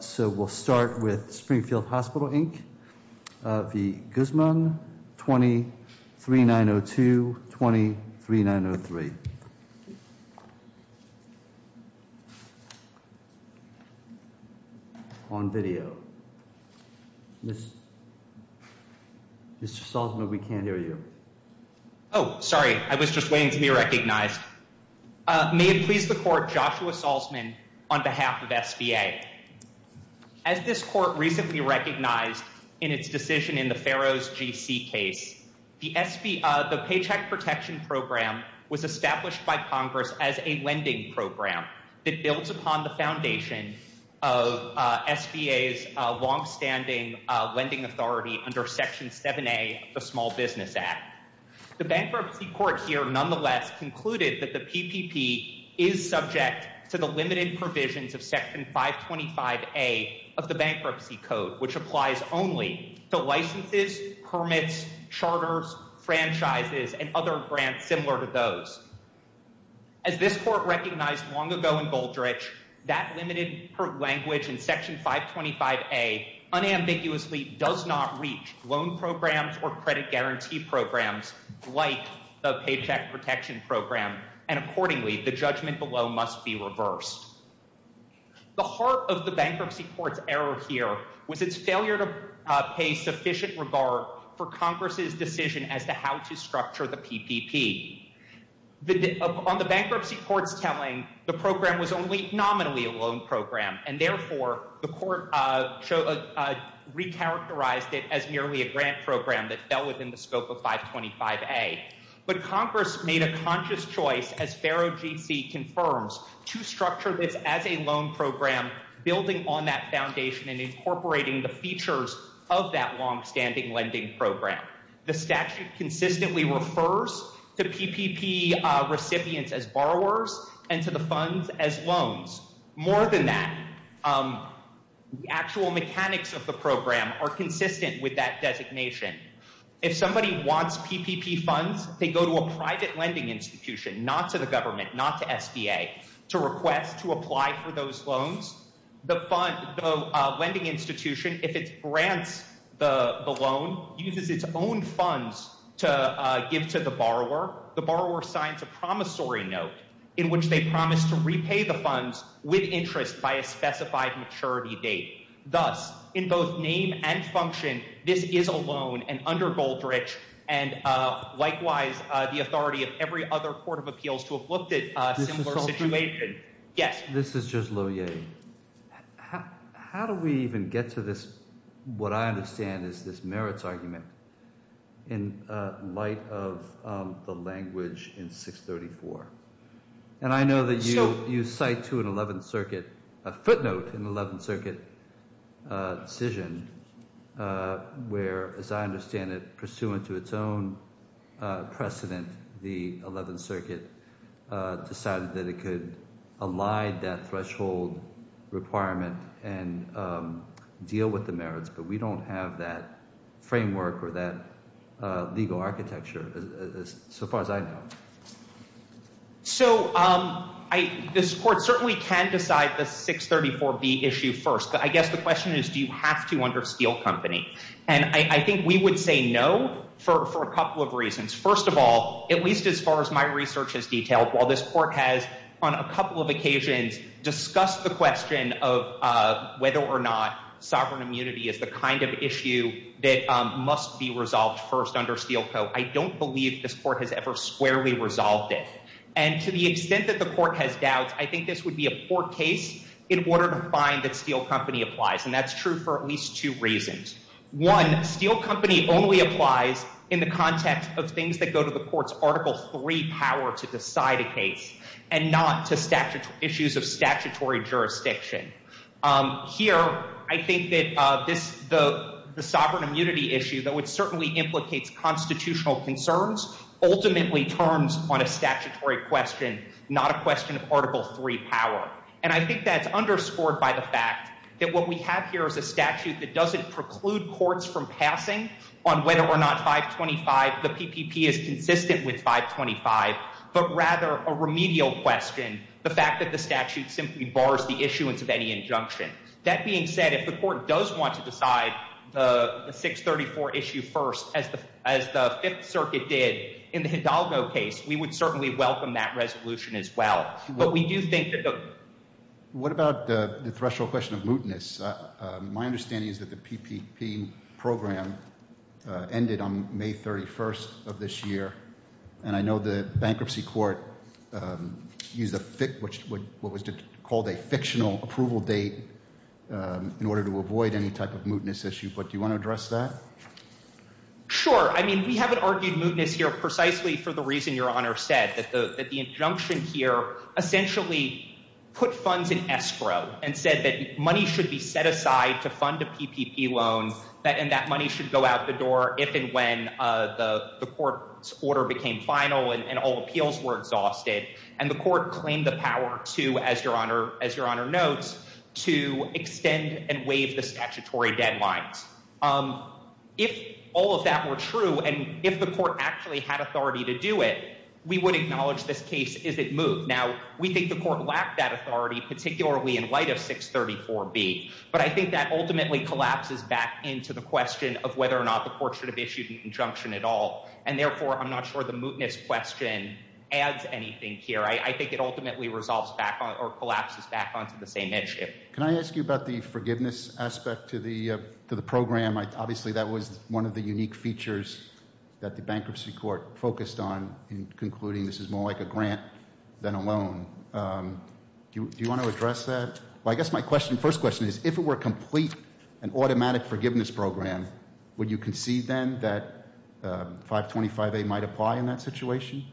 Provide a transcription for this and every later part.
So we'll start with Springfield Hospital, Inc. The Guzman 23902 23903 On video This Mr. Salzman, we can't hear you. Oh Sorry, I was just waiting to be recognized May it please the court Joshua Salzman on behalf of SBA As this court recently recognized in its decision in the Pharaoh's GC case The SP of the Paycheck Protection Program was established by Congress as a lending program It builds upon the foundation of SBA's long-standing lending authority under section 7a the Small Business Act The bankruptcy court here nonetheless Concluded that the PPP is subject to the limited provisions of section 525 a of the bankruptcy code which applies only to licenses permits charters franchises and other grants similar to those as This court recognized long ago in Goldrich that limited language in section 525 a Unambiguously does not reach loan programs or credit guarantee programs like the Paycheck Protection Program and accordingly the judgment below must be reversed The heart of the bankruptcy courts error here was its failure to Pay sufficient regard for Congress's decision as to how to structure the PPP The on the bankruptcy courts telling the program was only nominally a loan program and therefore the court Recharacterized it as merely a grant program that fell within the scope of 525 a but Congress made a conscious choice as Pharaoh Confirms to structure this as a loan program Building on that foundation and incorporating the features of that long-standing lending program the statute consistently refers to PPP Recipients as borrowers and to the funds as loans more than that Actual mechanics of the program are consistent with that designation if somebody wants PPP funds They go to a private lending institution not to the government not to SBA to request to apply for those loans the fun lending institution if it's grants the loan uses its own funds to Give to the borrower the borrower signs a promissory note in which they promise to repay the funds with interest by a specified maturity date thus in both name and function this is a loan and under Goldrich and Likewise the authority of every other Court of Appeals to have looked at Yes, this is just low yay How do we even get to this? What I understand is this merits argument in? light of the language in 634 And I know that you you cite to an 11th Circuit a footnote in 11th Circuit decision Where as I understand it pursuant to its own precedent the 11th Circuit Decided that it could allied that threshold requirement and Deal with the merits, but we don't have that framework or that legal architecture So far as I know so I This court certainly can decide the 634 be issue first I guess the question is do you have to under steel company? And I think we would say no for a couple of reasons first of all at least as far as my research has detailed While this court has on a couple of occasions discussed the question of Whether or not sovereign immunity is the kind of issue that must be resolved first under steel Co I don't believe this court has ever squarely resolved it and to the extent that the court has doubts I think this would be a poor case in order to find that steel company applies and that's true for at least two reasons one steel company only applies in the context of things that go to the courts article 3 power to decide a case and Not to statute issues of statutory jurisdiction Here I think that this the the sovereign immunity issue that would certainly implicates constitutional concerns Ultimately terms on a statutory question not a question of article 3 power And I think that's underscored by the fact that what we have here is a statute that doesn't preclude courts from passing on Whether or not 525 the PPP is consistent with 525 But rather a remedial question the fact that the statute simply bars the issuance of any injunction that being said if the court does want to decide the 634 issue first as the as the Fifth Circuit did in the Hidalgo case We would certainly welcome that resolution as well, but we do think that What about the threshold question of mootness? My understanding is that the PPP program Ended on May 31st of this year, and I know the bankruptcy court Use a fit which would what was to called a fictional approval date In order to avoid any type of mootness issue, but do you want to address that? Sure, I mean we haven't argued mootness here precisely for the reason your honor said that the injunction here Essentially put funds in escrow and said that money should be set aside to fund a PPP loan That in that money should go out the door if and when the the court order became final and all appeals were exhausted And the court claimed the power to as your honor as your honor notes to extend and waive the statutory deadlines If all of that were true, and if the court actually had authority to do it We would acknowledge this case is it moved now? We think the court lacked that authority particularly in light of 634 B But I think that ultimately collapses back into the question of whether or not the court should have issued an injunction at all and therefore I'm not sure the mootness question adds anything here I think it ultimately resolves back on or collapses back onto the same issue Can I ask you about the forgiveness aspect to the to the program? I obviously that was one of the unique features that the bankruptcy court focused on in concluding This is more like a grant than a loan Do you want to address that well, I guess my question first question is if it were complete an automatic forgiveness program Would you concede then that? 525 a might apply in that situation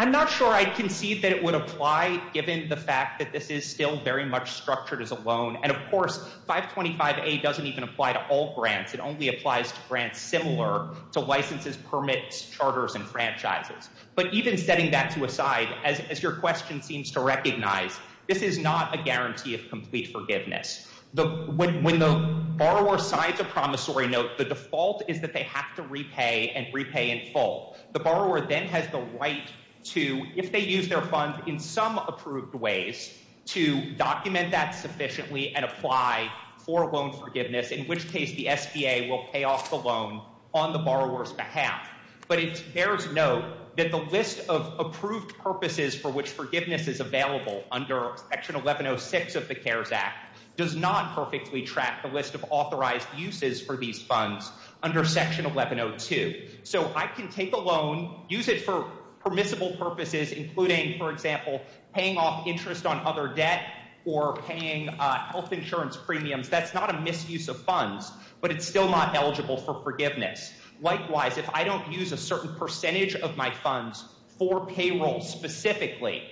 I'm not sure I can see that it would apply given the fact that this is still very much structured as a loan and of course 525 a doesn't even apply to all grants It only applies to grants similar to licenses permits charters and franchises But even setting that to a side as your question seems to recognize this is not a guarantee of complete forgiveness the window Borrower sides a promissory note The default is that they have to repay and repay in full the borrower then has the right To if they use their funds in some approved ways to document that sufficiently and apply For loan forgiveness in which case the SBA will pay off the loan on the borrowers behalf But it bears note that the list of approved purposes for which forgiveness is available under section 1106 of the cares act does not perfectly track the list of authorized uses for these funds under section 1102 So I can take a loan use it for permissible purposes including for example Paying off interest on other debt or paying health insurance premiums That's not a misuse of funds, but it's still not eligible for forgiveness Likewise if I don't use a certain percentage of my funds for payroll Specifically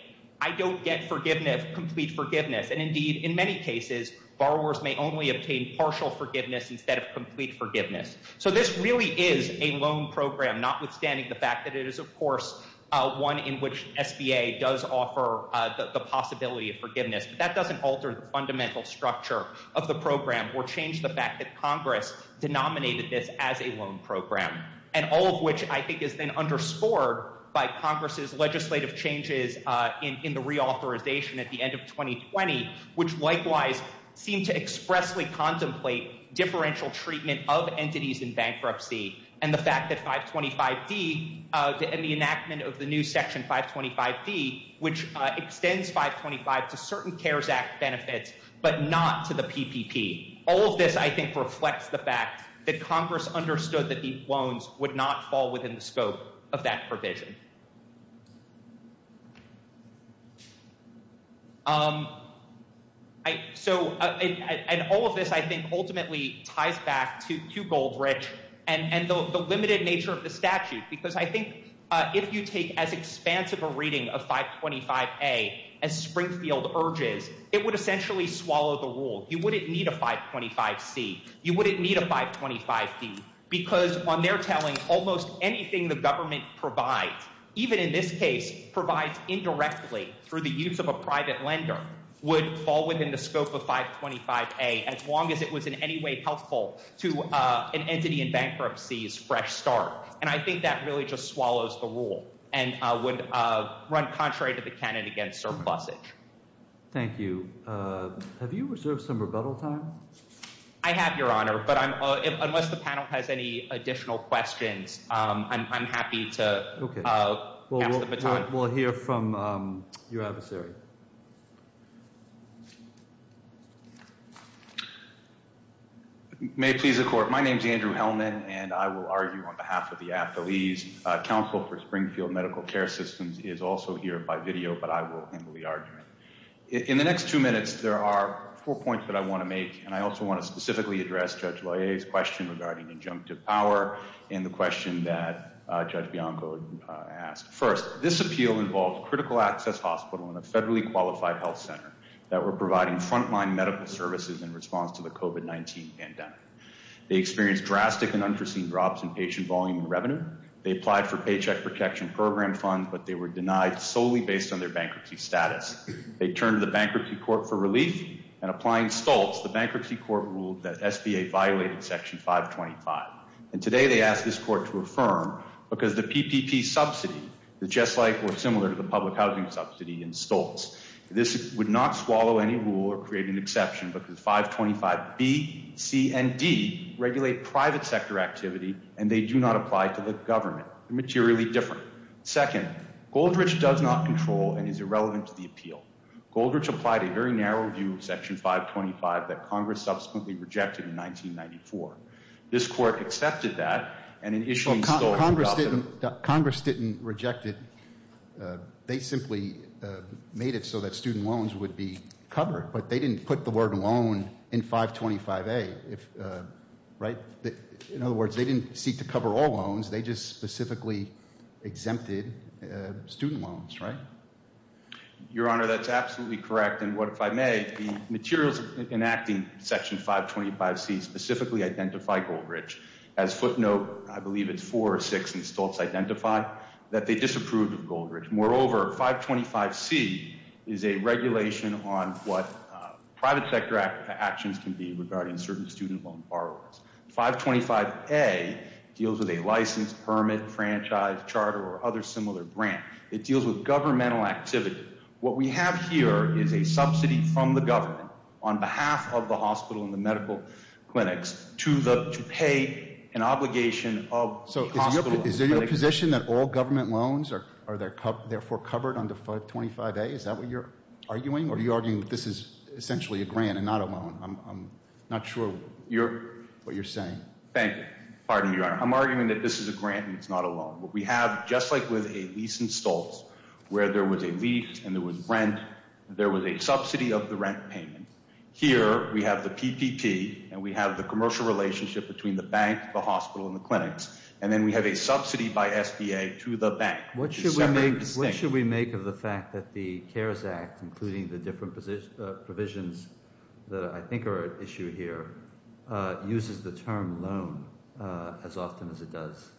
I don't get forgiveness complete forgiveness and indeed in many cases Borrowers may only obtain partial forgiveness instead of complete forgiveness So this really is a loan program notwithstanding the fact that it is of course One in which SBA does offer the possibility of forgiveness But that doesn't alter the fundamental structure of the program or change the fact that Congress Denominated this as a loan program and all of which I think is then underscored by Congress's legislative changes In the reauthorization at the end of 2020 which likewise seem to expressly contemplate differential treatment of entities in bankruptcy and the fact that 525 D In the enactment of the new section 525 D which extends 525 to certain cares act benefits But not to the PPP all of this I think reflects the fact that Congress understood that these loans would not fall within the scope of that provision Um so And all of this I think ultimately ties back to to Goldrich and and the limited nature of the statute because I think if you take as expansive a reading of 525 a as Essentially swallow the rule you wouldn't need a 525 C You wouldn't need a 525 D because on their telling almost anything the government provides even in this case provides indirectly through the use of a private lender would fall within the scope of 525 a as long as it was in any way helpful to an entity in bankruptcy is fresh start And I think that really just swallows the rule and would run contrary to the canon against surplus it Thank you Have you reserved some rebuttal time? I have your honor, but I'm unless the panel has any additional questions I'm happy to We'll hear from your adversary May please the court. My name is Andrew Hellman and I will argue on behalf of the athletes Council for Springfield medical care systems is also here by video, but I will handle the argument in the next two minutes There are four points that I want to make and I also want to specifically address judge Why a's question regarding injunctive power in the question that judge Bianco? Asked first this appeal involves critical access hospital in a federally qualified health center that we're providing frontline medical services in response to the Revenue they applied for paycheck protection program funds, but they were denied solely based on their bankruptcy status They turned the Bankruptcy Court for relief and applying Stoltz the Bankruptcy Court ruled that SBA violated section 525 and today they asked this court to affirm because the PPP subsidy Is just like or similar to the public housing subsidy in Stoltz This would not swallow any rule or create an exception because 525 B C and D Regulate private sector activity and they do not apply to the government materially different Second Goldrich does not control and is irrelevant to the appeal Goldrich applied a very narrow view of section 525 that Congress subsequently rejected in 1994 This court accepted that and an issue Congress didn't Congress didn't reject it They simply made it so that student loans would be covered, but they didn't put the word alone in 525 a if Right that in other words, they didn't seek to cover all loans. They just specifically exempted student loans, right Your honor that's absolutely correct And what if I may the materials enacting section 525 C specifically identify Goldrich as footnote I believe it's four or six and Stoltz identified that they disapproved of Goldrich moreover 525 C is a regulation on what? 525 a Deals with a license permit franchise charter or other similar grant it deals with governmental activity What we have here is a subsidy from the government on behalf of the hospital in the medical clinics to the to pay an obligation of Is there a position that all government loans are are there cup therefore covered under 525 a is that what you're arguing? Are you arguing? This is essentially a grant and not alone. I'm not sure you're what you're saying. Thank you. Pardon your honor I'm arguing that this is a grant and it's not alone We have just like with a lease and Stoltz where there was a lease and there was rent There was a subsidy of the rent payment here We have the PPP and we have the commercial relationship between the bank the hospital in the clinics And then we have a subsidy by SBA to the bank What should we make of the fact that the cares act including the different position provisions that I think are at issue here uses the term loan as often as it does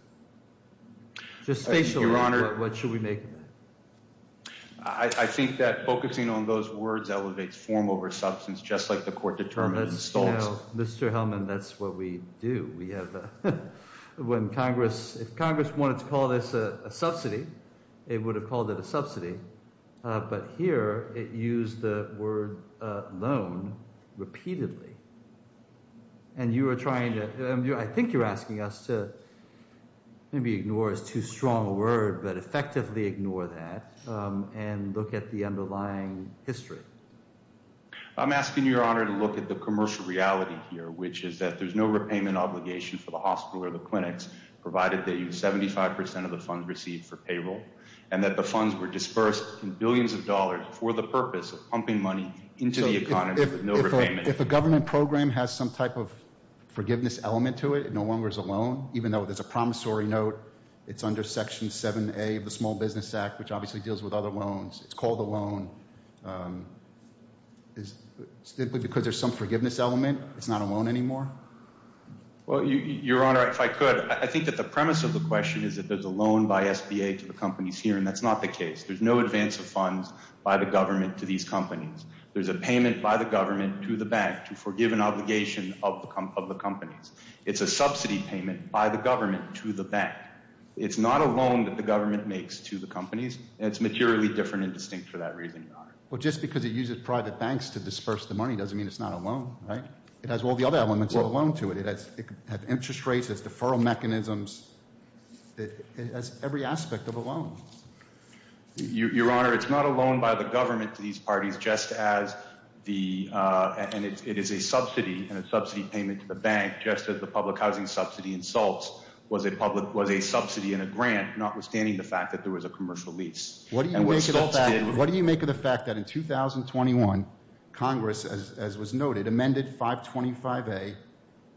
Just face your honor. What should we make? I Think that focusing on those words elevates form over substance just like the court determined install. No, mr. Hellman. That's what we do. We have When Congress if Congress wanted to call this a subsidy it would have called it a subsidy But here it used the word loan repeatedly and You are trying to I think you're asking us to Maybe ignore is too strong a word, but effectively ignore that and look at the underlying history I'm asking your honor to look at the commercial reality here Which is that there's no repayment obligation for the hospital or the clinics Provided that you 75% of the funds received for payroll and that the funds were dispersed in billions of dollars for the purpose of pumping money into the economy If a government program has some type of Forgiveness element to it. It no longer is a loan even though there's a promissory note It's under section 7a of the Small Business Act, which obviously deals with other loans. It's called the loan Is Simply because there's some forgiveness element. It's not a loan anymore Well your honor if I could I think that the premise of the question is that there's a loan by SBA to the companies Here and that's not the case. There's no advance of funds by the government to these companies There's a payment by the government to the bank to forgive an obligation of the company of the companies It's a subsidy payment by the government to the bank It's not a loan that the government makes to the companies and it's materially different and distinct for that reason Well, just because it uses private banks to disperse the money doesn't mean it's not a loan Right, it has all the other elements of a loan to it. It has it could have interest rates as deferral mechanisms It has every aspect of a loan your honor, it's not a loan by the government to these parties just as the And it is a subsidy and a subsidy payment to the bank Just as the public housing subsidy insults was a public was a subsidy and a grant notwithstanding the fact that there was a commercial lease What do you make of the fact that in? 2021 Congress as was noted amended 525 a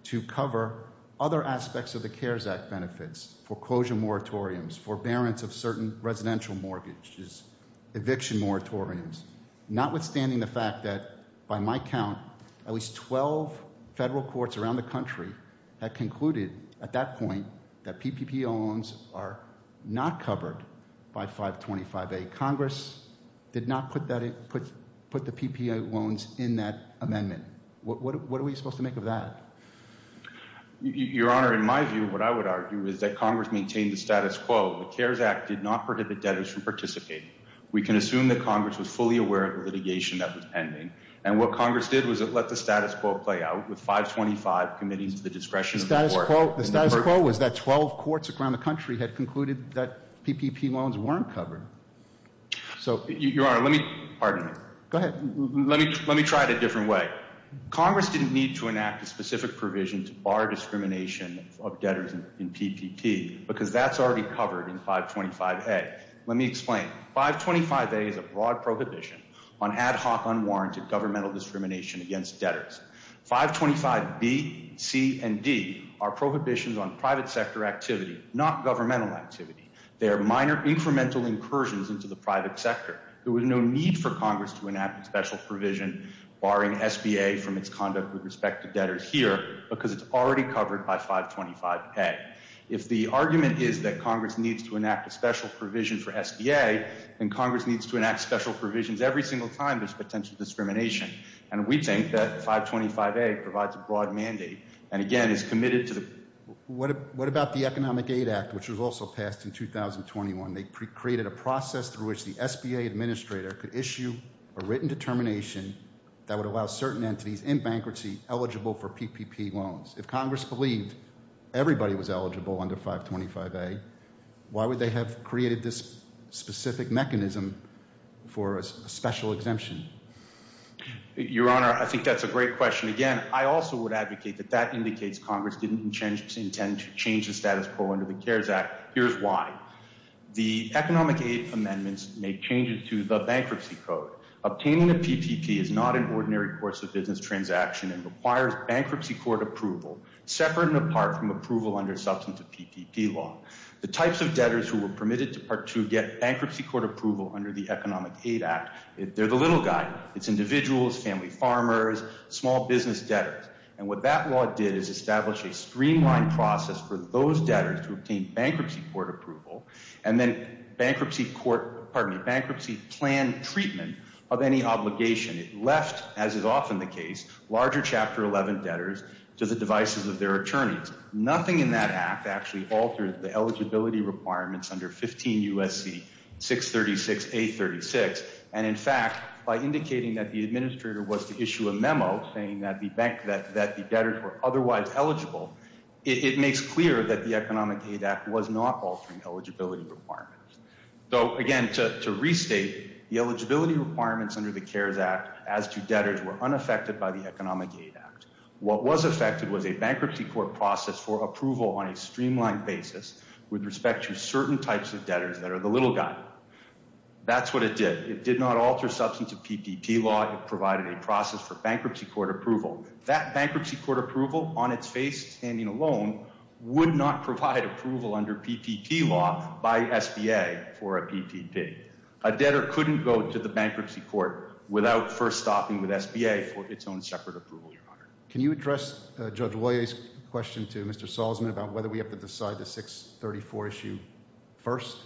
To cover other aspects of the cares act benefits foreclosure moratoriums forbearance of certain residential mortgages Eviction moratoriums notwithstanding the fact that by my count at least 12 Federal courts around the country that concluded at that point that PPP loans are not covered by 525 a Congress did not put that it put put the PPA loans in that amendment. What are we supposed to make of that? Your honor in my view what I would argue is that Congress maintained the status quo the cares act did not prohibit debtors from participating We can assume that Congress was fully aware of the litigation that was pending and what Congress did was it let the status quo play out With 525 committees to the discretion of the court the status quo was that 12 courts around the country had concluded that PPP loans weren't covered So you are let me pardon me. Go ahead. Let me let me try it a different way Congress didn't need to enact a specific provision to bar discrimination of debtors in PPP because that's already covered in 525 a Let me explain 525 a is a broad prohibition on ad hoc unwarranted governmental discrimination against debtors 525 B C and D are prohibitions on private sector activity not governmental activity They are minor incremental incursions into the private sector There was no need for Congress to enact a special provision Barring SBA from its conduct with respect to debtors here because it's already covered by 525 a if the argument Is that Congress needs to enact a special provision for SBA and Congress needs to enact special provisions every single time? Potential discrimination and we think that 525 a provides a broad mandate and again is committed to the What what about the Economic Aid Act, which was also passed in? 2021 they created a process through which the SBA administrator could issue a written determination That would allow certain entities in bankruptcy eligible for PPP loans if Congress believed Everybody was eligible under 525 a why would they have created this? specific mechanism For a special exemption Your honor. I think that's a great question again I also would advocate that that indicates Congress didn't change its intent to change the status quo under the CARES Act. Here's why The economic aid amendments make changes to the bankruptcy code Obtaining the PPP is not an ordinary course of business transaction and requires bankruptcy court approval Separate and apart from approval under substantive PPP law The types of debtors who were permitted to part to get bankruptcy court approval under the Economic Aid Act They're the little guy It's individuals family farmers small business debtors and what that law did is establish a streamlined process for those debtors to obtain bankruptcy court approval and then Bankruptcy court pardon me bankruptcy plan treatment of any obligation it left as is often the case Larger chapter 11 debtors to the devices of their attorneys nothing in that act actually altered the eligibility requirements under 15 USC 636 a 36 and in fact by indicating that the administrator was to issue a memo saying that the bank that that the debtors were Otherwise eligible it makes clear that the Economic Aid Act was not altering eligibility requirements Though again to restate the eligibility requirements under the CARES Act as to debtors were unaffected by the Economic Aid Act What was affected was a bankruptcy court process for approval on a streamlined basis? With respect to certain types of debtors that are the little guy That's what it did. It did not alter substantive PPP law It provided a process for bankruptcy court approval that bankruptcy court approval on its face standing alone Would not provide approval under PPP law by SBA for a PPP a debtor couldn't go to the bankruptcy court Without first stopping with SBA for its own separate approval your honor. Can you address judge lawyer's question to mr Salzman about whether we have to decide the 634 issue first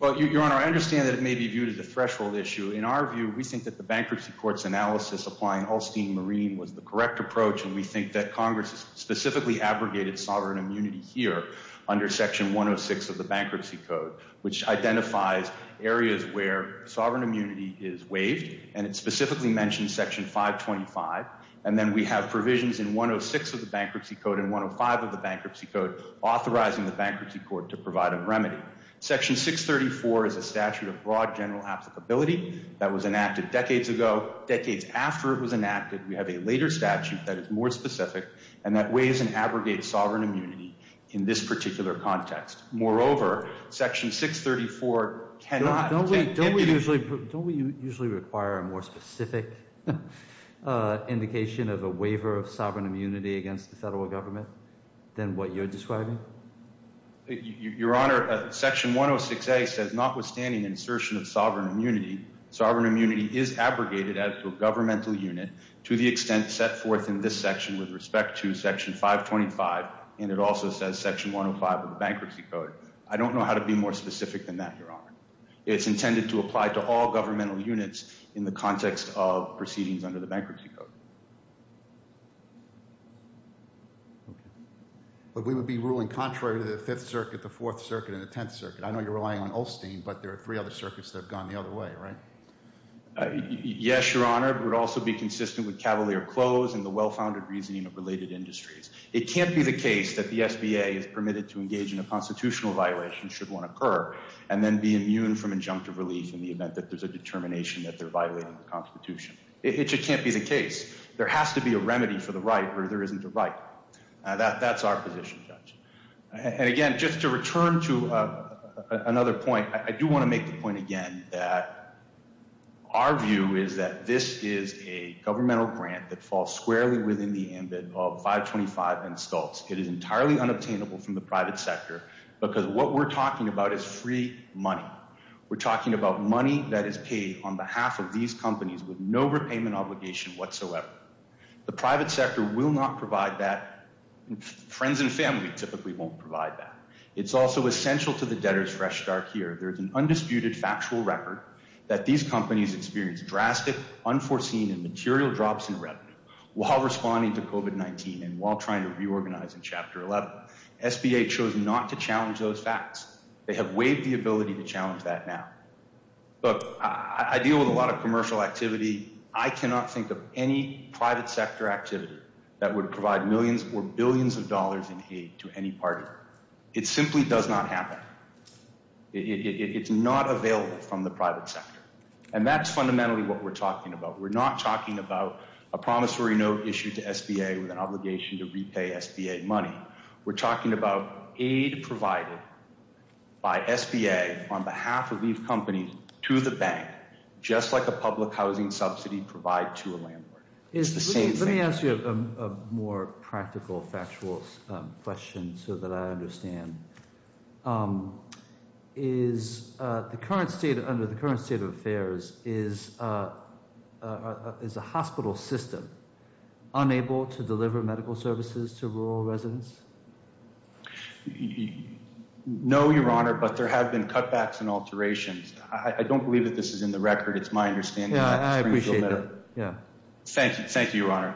But your honor I understand that it may be viewed as a threshold issue in our view We think that the bankruptcy courts analysis applying Holstein Marine was the correct approach and we think that Congress specifically abrogated sovereign immunity here under section 106 of the Bankruptcy Code which identifies areas where sovereign immunity is waived and it specifically mentioned section 525 and then we have Provisions in 106 of the Bankruptcy Code and 105 of the Bankruptcy Code authorizing the Bankruptcy Court to provide a remedy section 634 is a statute of broad general applicability That was enacted decades ago decades after it was enacted We have a later statute that is more specific and that weighs and abrogates sovereign immunity in this particular context Moreover section 634 cannot don't we don't we usually don't we usually require a more specific? Indication of a waiver of sovereign immunity against the federal government than what you're describing You your honor section 106 a says notwithstanding insertion of sovereign immunity Sovereign immunity is abrogated as a governmental unit to the extent set forth in this section with respect to section 525 And it also says section 105 of the Bankruptcy Code. I don't know how to be more specific than that your honor It's intended to apply to all governmental units in the context of proceedings under the Bankruptcy Code But We would be ruling contrary to the 5th circuit the 4th circuit in the 10th circuit I know you're relying on Ulstein, but there are three other circuits that have gone the other way, right? Yes, your honor would also be consistent with Cavalier close and the well-founded reasoning of related industries It can't be the case that the SBA is permitted to engage in a constitutional Violation should one occur and then be immune from injunctive relief in the event that there's a determination that they're violating the Constitution It just can't be the case there has to be a remedy for the right where there isn't the right That that's our position judge and again just to return to Another point. I do want to make the point again that Our view is that this is a governmental grant that falls squarely within the ambit of 525 and stults It is entirely unobtainable from the private sector because what we're talking about is free money We're talking about money that is paid on behalf of these companies with no repayment obligation whatsoever The private sector will not provide that Friends and family typically won't provide that it's also essential to the debtor's fresh start here There's an undisputed factual record that these companies experience drastic unforeseen and material drops in revenue While responding to covid19 and while trying to reorganize in chapter 11 Sba chose not to challenge those facts. They have waived the ability to challenge that now But I deal with a lot of commercial activity I cannot think of any private sector activity that would provide millions or billions of dollars in aid to any party It simply does not happen It's not available from the private sector and that's fundamentally what we're talking about We're not talking about a promissory note issued to sba with an obligation to repay sba money We're talking about aid provided By sba on behalf of these companies to the bank Just like a public housing subsidy provide to a landlord. It's the same thing. Let me ask you a more practical factual Question so that I understand um Is uh the current state under the current state of affairs is uh, Is a hospital system Unable to deliver medical services to rural residents No, your honor, but there have been cutbacks and alterations I don't believe that this is in the record it's my understanding. Yeah, I appreciate it Yeah, thank you. Thank you, your honor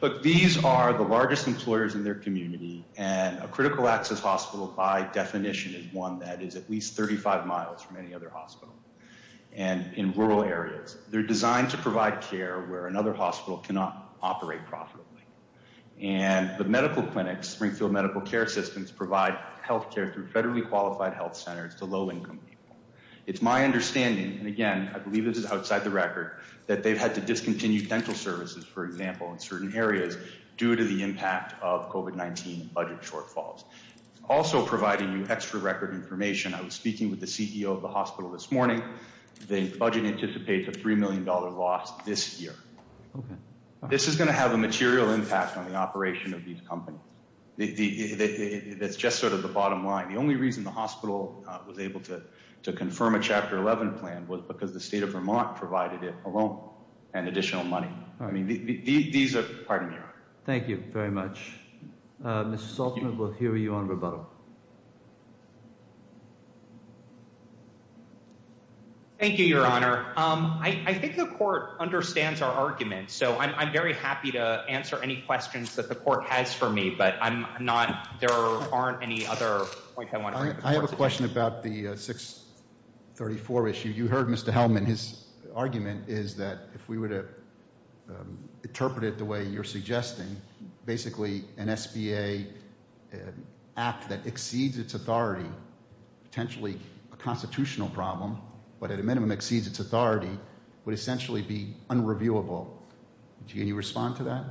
Look, these are the largest employers in their community and a critical access hospital by definition is one That is at least 35 miles from any other hospital And in rural areas they're designed to provide care where another hospital cannot operate profitably And the medical clinics springfield medical care systems provide health care through federally qualified health centers to low-income people It's my understanding and again, I believe this is outside the record that they've had to discontinue dental services For example in certain areas due to the impact of covid19 budget shortfalls Also providing you extra record information I was speaking with the ceo of the hospital this morning The budget anticipates a three million dollar loss this year Okay, this is going to have a material impact on the operation of these companies That's just sort of the bottom line The only reason the hospital was able to to confirm a chapter 11 plan was because the state of vermont provided it alone And additional money. I mean These are pardon me. Thank you very much Uh, mr. Saltman, we'll hear you on rebuttal Thank you, your honor, um, I I think the court understands our argument So i'm very happy to answer any questions that the court has for me, but i'm not there aren't any other point I have a question about the 634 issue you heard. Mr. Hellman. His argument is that if we were to Interpret it the way you're suggesting basically an sba Act that exceeds its authority Potentially a constitutional problem, but at a minimum exceeds its authority would essentially be unreviewable Would you respond to that?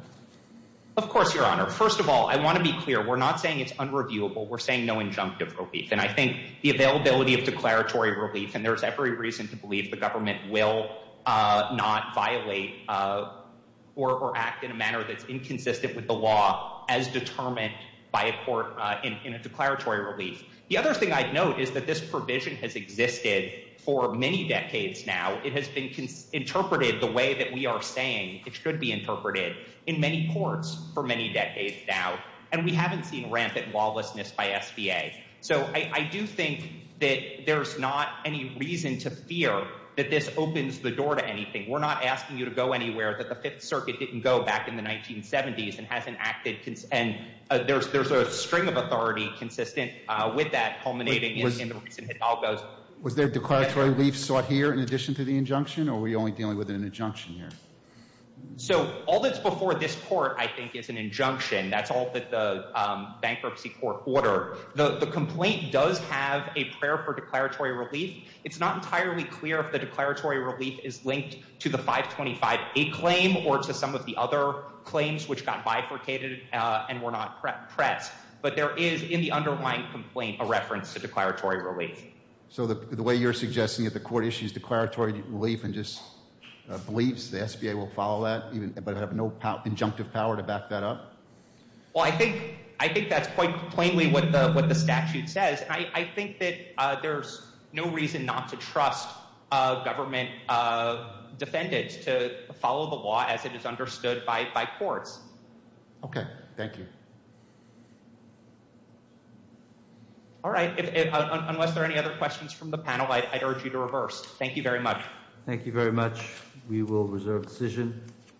Of course your honor. First of all, I want to be clear. We're not saying it's unreviewable We're saying no injunctive relief and I think the availability of declaratory relief and there's every reason to believe the government will uh not violate uh Or or act in a manner that's inconsistent with the law as determined by a court, uh in a declaratory relief The other thing i'd note is that this provision has existed for many decades now It has been interpreted the way that we are saying it should be interpreted In many courts for many decades now, and we haven't seen rampant lawlessness by sba So I I do think that there's not any reason to fear that this opens the door to anything We're not asking you to go anywhere that the fifth circuit didn't go back in the 1970s and hasn't acted And there's there's a string of authority consistent, uh with that culminating in the recent hidalgos Was there declaratory relief sought here in addition to the injunction or were you only dealing with an injunction here? So all that's before this court, I think is an injunction. That's all that the um bankruptcy court order The the complaint does have a prayer for declaratory relief It's not entirely clear if the declaratory relief is linked to the 525a claim or to some of the other Claims which got bifurcated, uh, and were not pressed but there is in the underlying complaint a reference to declaratory relief so the the way you're suggesting that the court issues declaratory relief and just Beliefs the sba will follow that even but have no power injunctive power to back that up Well, I think I think that's quite plainly what the what the statute says I I think that uh, there's no reason not to trust uh government, uh Defendants to follow the law as it is understood by by courts Okay. Thank you All right Unless there are any other questions from the panel, I'd urge you to reverse. Thank you very much. Thank you very much We will reserve decision